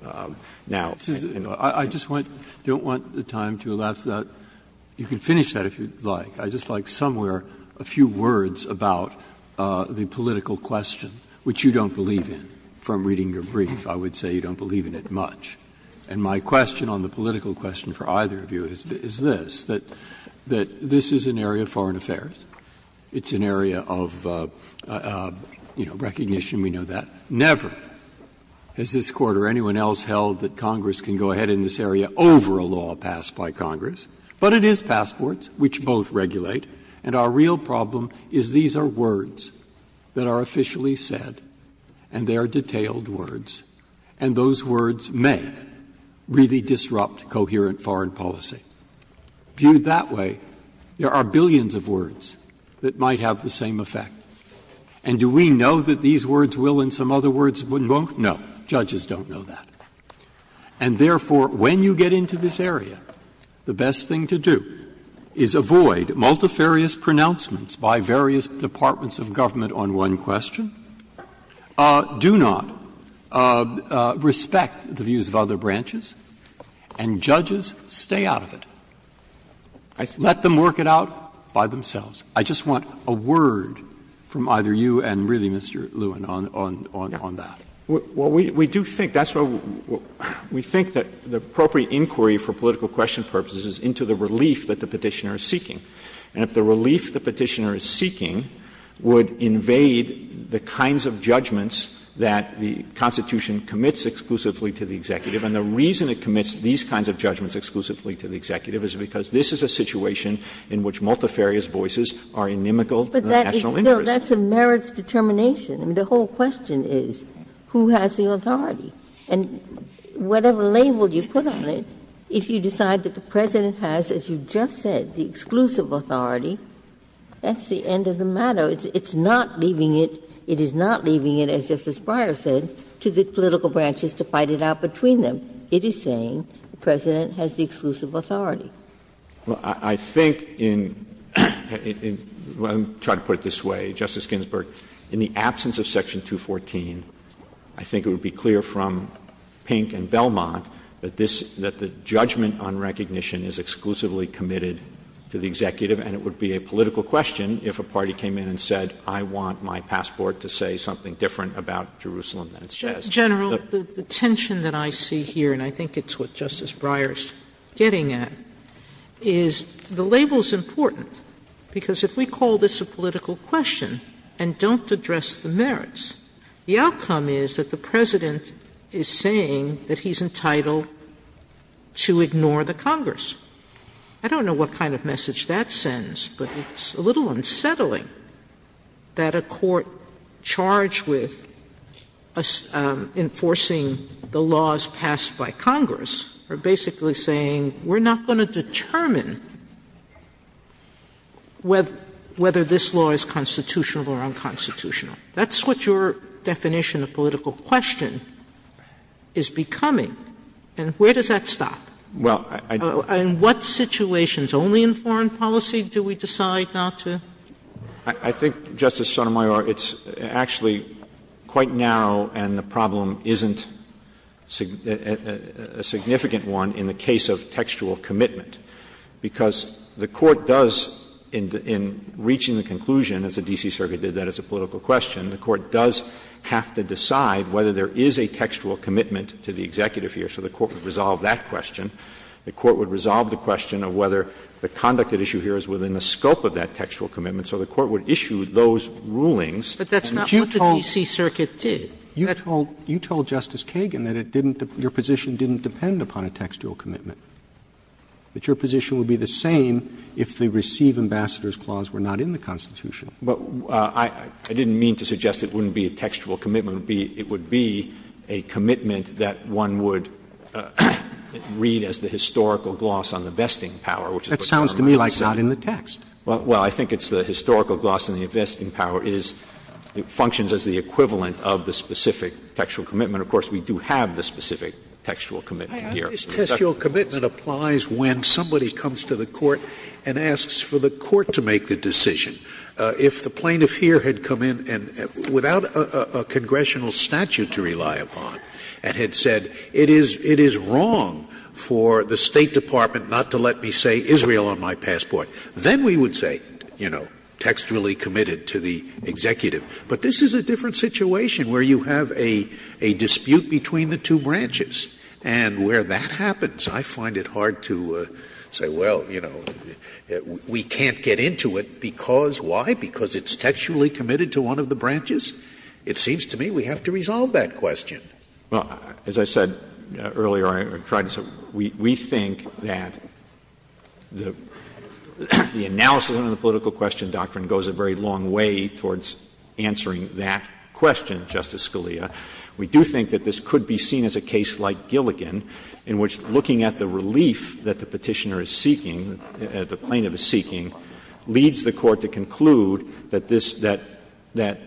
Now, I don't know. Breyer. I just don't want the time to elapse. You can finish that if you'd like. I'd just like somewhere a few words about the political question, which you don't believe in. From reading your brief, I would say you don't believe in it much. And my question on the political question for either of you is this, that this is an area of foreign affairs. It's an area of, you know, recognition. We know that. Never has this Court or anyone else held that Congress can go ahead in this area passports which both regulate. And our real problem is these are words that are officially said and they are detailed words, and those words may really disrupt coherent foreign policy. Viewed that way, there are billions of words that might have the same effect. And do we know that these words will and some other words won't? No. Judges don't know that. And therefore, when you get into this area, the best thing to do is avoid multifarious pronouncements by various departments of government on one question. Do not respect the views of other branches, and judges, stay out of it. Let them work it out by themselves. I just want a word from either you and really, Mr. Lewin, on that. Lewin, we do think that's what we think that the appropriate inquiry for political question purposes is into the relief that the Petitioner is seeking. And if the relief the Petitioner is seeking would invade the kinds of judgments that the Constitution commits exclusively to the executive, and the reason it commits these kinds of judgments exclusively to the executive is because this is a situation in which multifarious voices are inimical to the national interest. Well, that's a merits determination. I mean, the whole question is who has the authority? And whatever label you put on it, if you decide that the President has, as you just said, the exclusive authority, that's the end of the matter. It's not leaving it, it is not leaving it, as Justice Breyer said, to the political branches to fight it out between them. It is saying the President has the exclusive authority. Well, I think in — I'm trying to put it this way, Justice Ginsburg. In the absence of Section 214, I think it would be clear from Pink and Belmont that this — that the judgment on recognition is exclusively committed to the executive, and it would be a political question if a party came in and said, I want my passport General, the tension that I see here, and I think it's what Justice Breyer is getting at, is the label is important, because if we call this a political question and don't address the merits, the outcome is that the President is saying that he's entitled to ignore the Congress. I don't know what kind of message that sends, but it's a little unsettling that a court charged with enforcing the laws passed by Congress are basically saying, we're not going to determine whether this law is constitutional or unconstitutional. That's what your definition of political question is becoming, and where does that stop? Well, I — In what situations? Only in foreign policy do we decide not to? I think, Justice Sotomayor, it's actually quite narrow, and the problem isn't a significant one in the case of textual commitment, because the Court does, in reaching the conclusion as the D.C. Circuit did that it's a political question, the Court does have to decide whether there is a textual commitment to the executive here. So the Court would resolve that question. The Court would resolve the question of whether the conduct at issue here is within the scope of that textual commitment, so the Court would issue those rulings. But that's not what the D.C. Circuit did. You told Justice Kagan that it didn't — your position didn't depend upon a textual commitment, that your position would be the same if the Receive Ambassadors Clause were not in the Constitution. But I didn't mean to suggest it wouldn't be a textual commitment. It would be a commitment that one would read as the historical gloss on the vesting power, which is what Governor Miles said. It's not in the text. Well, I think it's the historical gloss on the vesting power is — functions as the equivalent of the specific textual commitment. Of course, we do have the specific textual commitment here. This textual commitment applies when somebody comes to the Court and asks for the Court to make the decision. If the plaintiff here had come in and, without a congressional statute to rely upon and had said, it is wrong for the State Department not to let me say Israel on my passport, then we would say, you know, textually committed to the executive. But this is a different situation where you have a dispute between the two branches. And where that happens, I find it hard to say, well, you know, we can't get into it because why? Because it's textually committed to one of the branches? It seems to me we have to resolve that question. Well, as I said earlier, or tried to say, we think that the analysis of the political question doctrine goes a very long way towards answering that question, Justice Scalia. We do think that this could be seen as a case like Gilligan, in which looking at the relief that the Petitioner is seeking, the plaintiff is seeking, leads the Court to conclude that this — that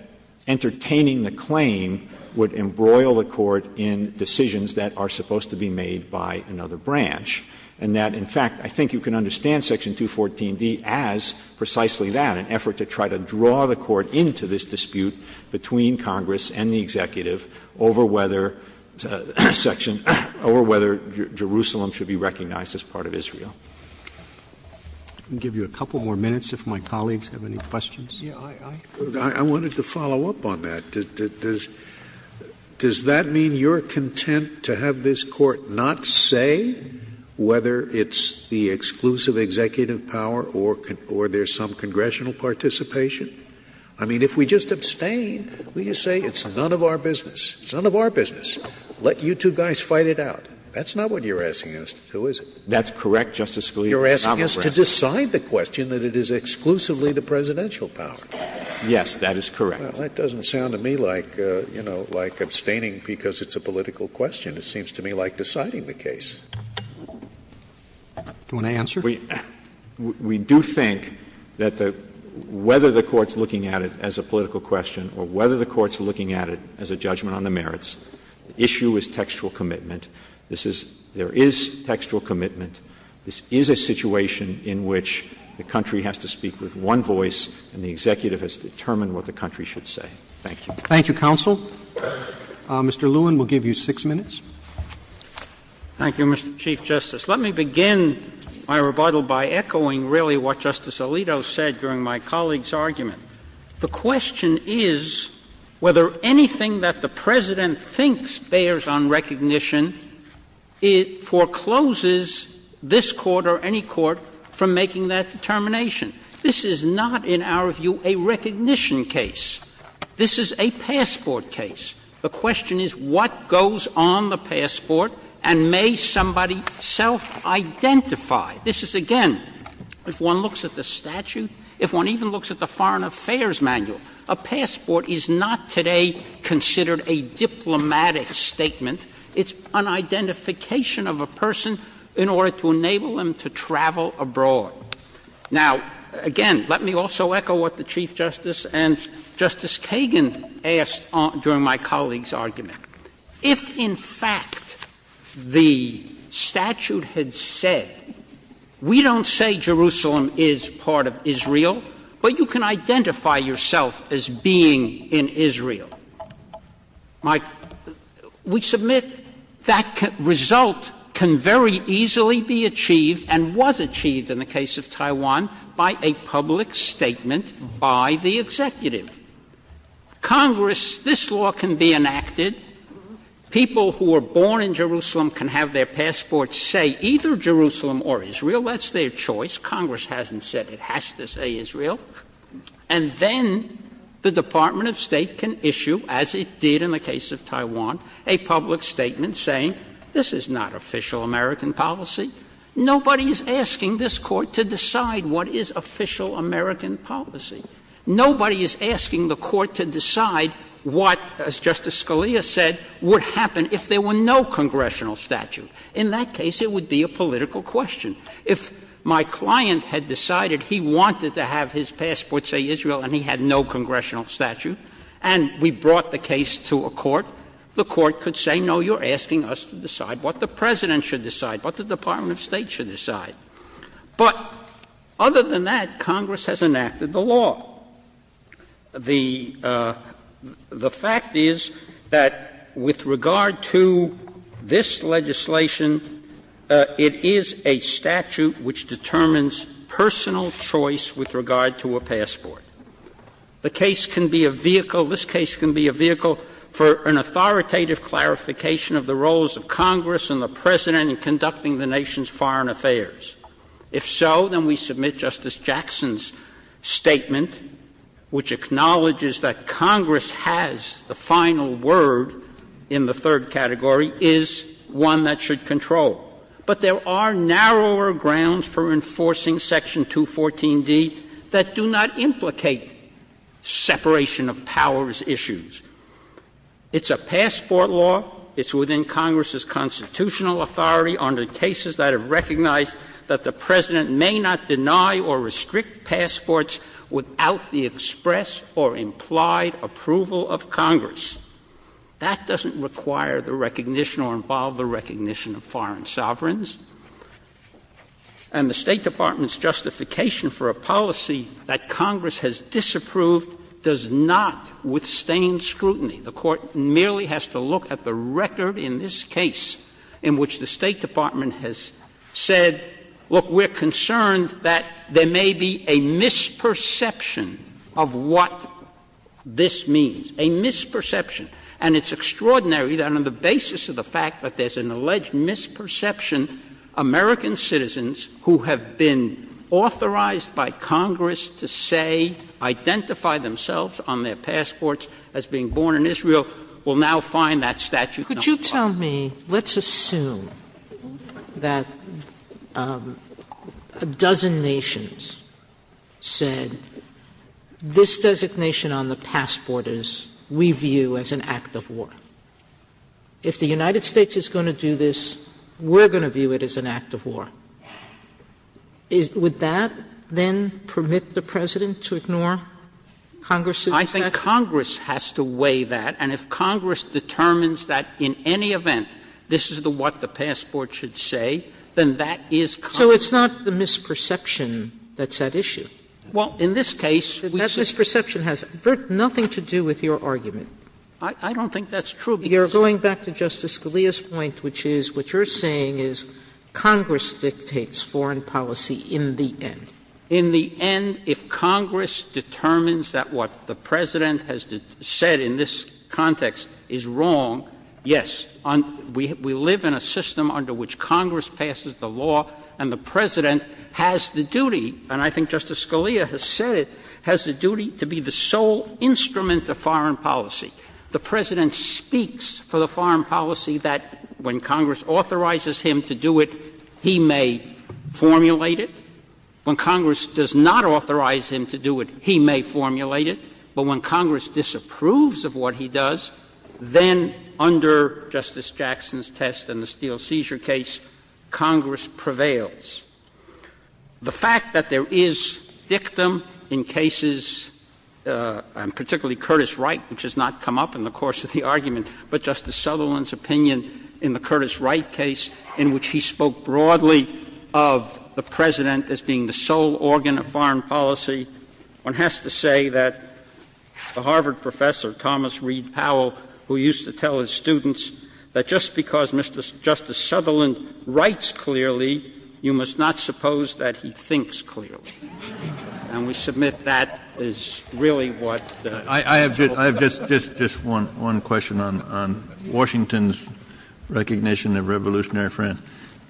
entertaining the claim would embroil the Court in decisions that are supposed to be made by another branch, and that, in fact, I think you can understand Section 214D as precisely that, an effort to try to draw the Court into this dispute between Congress and the executive over whether — section — over whether Jerusalem should be recognized as part of Israel. I'll give you a couple more minutes if my colleagues have any questions. Scalia. I wanted to follow up on that. Does that mean you're content to have this Court not say whether it's the exclusive executive power or there's some congressional participation? I mean, if we just abstain, will you say it's none of our business? It's none of our business. Let you two guys fight it out. That's not what you're asking us to do, is it? That's correct, Justice Scalia. You're asking us to decide the question that it is exclusively the presidential power. Yes, that is correct. Well, that doesn't sound to me like, you know, like abstaining because it's a political question. It seems to me like deciding the case. Do you want to answer? We do think that the — whether the Court's looking at it as a political question or whether the Court's looking at it as a judgment on the merits, the issue is textual commitment. This is — there is textual commitment. This is a situation in which the country has to speak with one voice and the executive has to determine what the country should say. Thank you. Thank you, counsel. Mr. Lewin will give you 6 minutes. Thank you, Mr. Chief Justice. Let me begin my rebuttal by echoing really what Justice Alito said during my colleague's argument. The question is whether anything that the President thinks bears on recognition forecloses this Court or any court from making that determination. This is not, in our view, a recognition case. This is a passport case. The question is what goes on the passport and may somebody self-identify? This is, again, if one looks at the statute, if one even looks at the foreign affairs manual, a passport is not today considered a diplomatic statement. It's an identification of a person in order to enable them to travel abroad. Now, again, let me also echo what the Chief Justice and Justice Kagan asked during my colleague's argument. If, in fact, the statute had said, we don't say Jerusalem is part of Israel, but you can identify yourself as being in Israel, Mike, we submit that result can very easily be achieved and was achieved in the case of Taiwan by a public statement by the executive. Congress, this law can be enacted. People who were born in Jerusalem can have their passport say either Jerusalem or Israel. That's their choice. Congress hasn't said it has to say Israel. And then the Department of State can issue, as it did in the case of Taiwan, a public statement saying this is not official American policy. Nobody is asking this Court to decide what is official American policy. Nobody is asking the Court to decide what, as Justice Scalia said, would happen if there were no congressional statute. In that case, it would be a political question. If my client had decided he wanted to have his passport say Israel and he had no congressional statute, and we brought the case to a court, the court could say, no, you're asking us to decide what the President should decide, what the Department of State should decide. But other than that, Congress has enacted the law. The fact is that with regard to this legislation, it is a statute which determines personal choice with regard to a passport. The case can be a vehicle, this case can be a vehicle for an authoritative clarification of the roles of Congress and the President in conducting the nation's foreign affairs. If so, then we submit Justice Jackson's statement, which acknowledges that Congress has the final word in the third category, is one that should control. But there are narrower grounds for enforcing Section 214d that do not implicate separation of powers issues. It's a passport law. It's within Congress's constitutional authority under cases that have recognized that the President may not deny or restrict passports without the express or implied approval of Congress. That doesn't require the recognition or involve the recognition of foreign sovereigns. And the State Department's justification for a policy that Congress has disapproved does not withstand scrutiny. The Court merely has to look at the record in this case in which the State Department has said, look, we're concerned that there may be a misperception of what this means. A misperception. And it's extraordinary that on the basis of the fact that there's an alleged misperception, American citizens who have been authorized by Congress to say, identify themselves on their passports as being born in Israel, will now find that statute. Sotomayor, could you tell me, let's assume that a dozen nations said, this designation on the passport is, we view as an act of war. If the United States is going to do this, we're going to view it as an act of war. Would that then permit the President to ignore Congress's discretion? Congress has to weigh that, and if Congress determines that in any event this is what the passport should say, then that is Congress. Sotomayor, so it's not the misperception that's at issue? Well, in this case, we just say that the misperception has nothing to do with your argument. I don't think that's true, because you're going back to Justice Scalia's point, which is what you're saying is Congress dictates foreign policy in the end. In the end, if Congress determines that what the President has said in this context is wrong, yes, we live in a system under which Congress passes the law, and the President has the duty, and I think Justice Scalia has said it, has the duty to be the sole instrument of foreign policy. The President speaks for the foreign policy that when Congress authorizes him to do it, he may formulate it. When Congress does not authorize him to do it, he may formulate it. But when Congress disapproves of what he does, then under Justice Jackson's test in the Steel Seizure case, Congress prevails. The fact that there is dictum in cases, and particularly Curtis Wright, which has not come up in the course of the argument, but Justice Sutherland's opinion in the Curtis case, which is the most broadly of the President as being the sole organ of foreign policy, one has to say that the Harvard professor, Thomas Reed Powell, who used to tell his students that just because Justice Sutherland writes clearly, you must not suppose that he thinks clearly. Kennedy, I have just one question on Washington's recognition of revolutionary friends.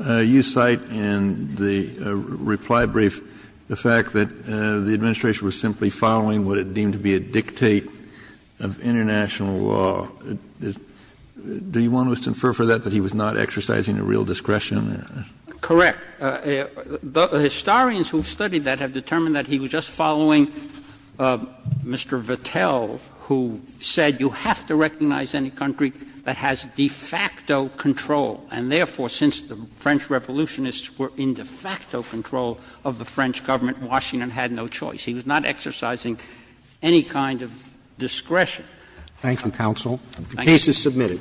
You cite in the reply brief the fact that the Administration was simply following what it deemed to be a dictate of international law. Do you want to infer for that that he was not exercising a real discretion? Correct. The historians who studied that have determined that he was just following Mr. Vettel who said you have to recognize any country that has de facto control, and therefore, since the French revolutionists were in de facto control of the French government, Washington had no choice. He was not exercising any kind of discretion. Thank you, counsel. The case is submitted.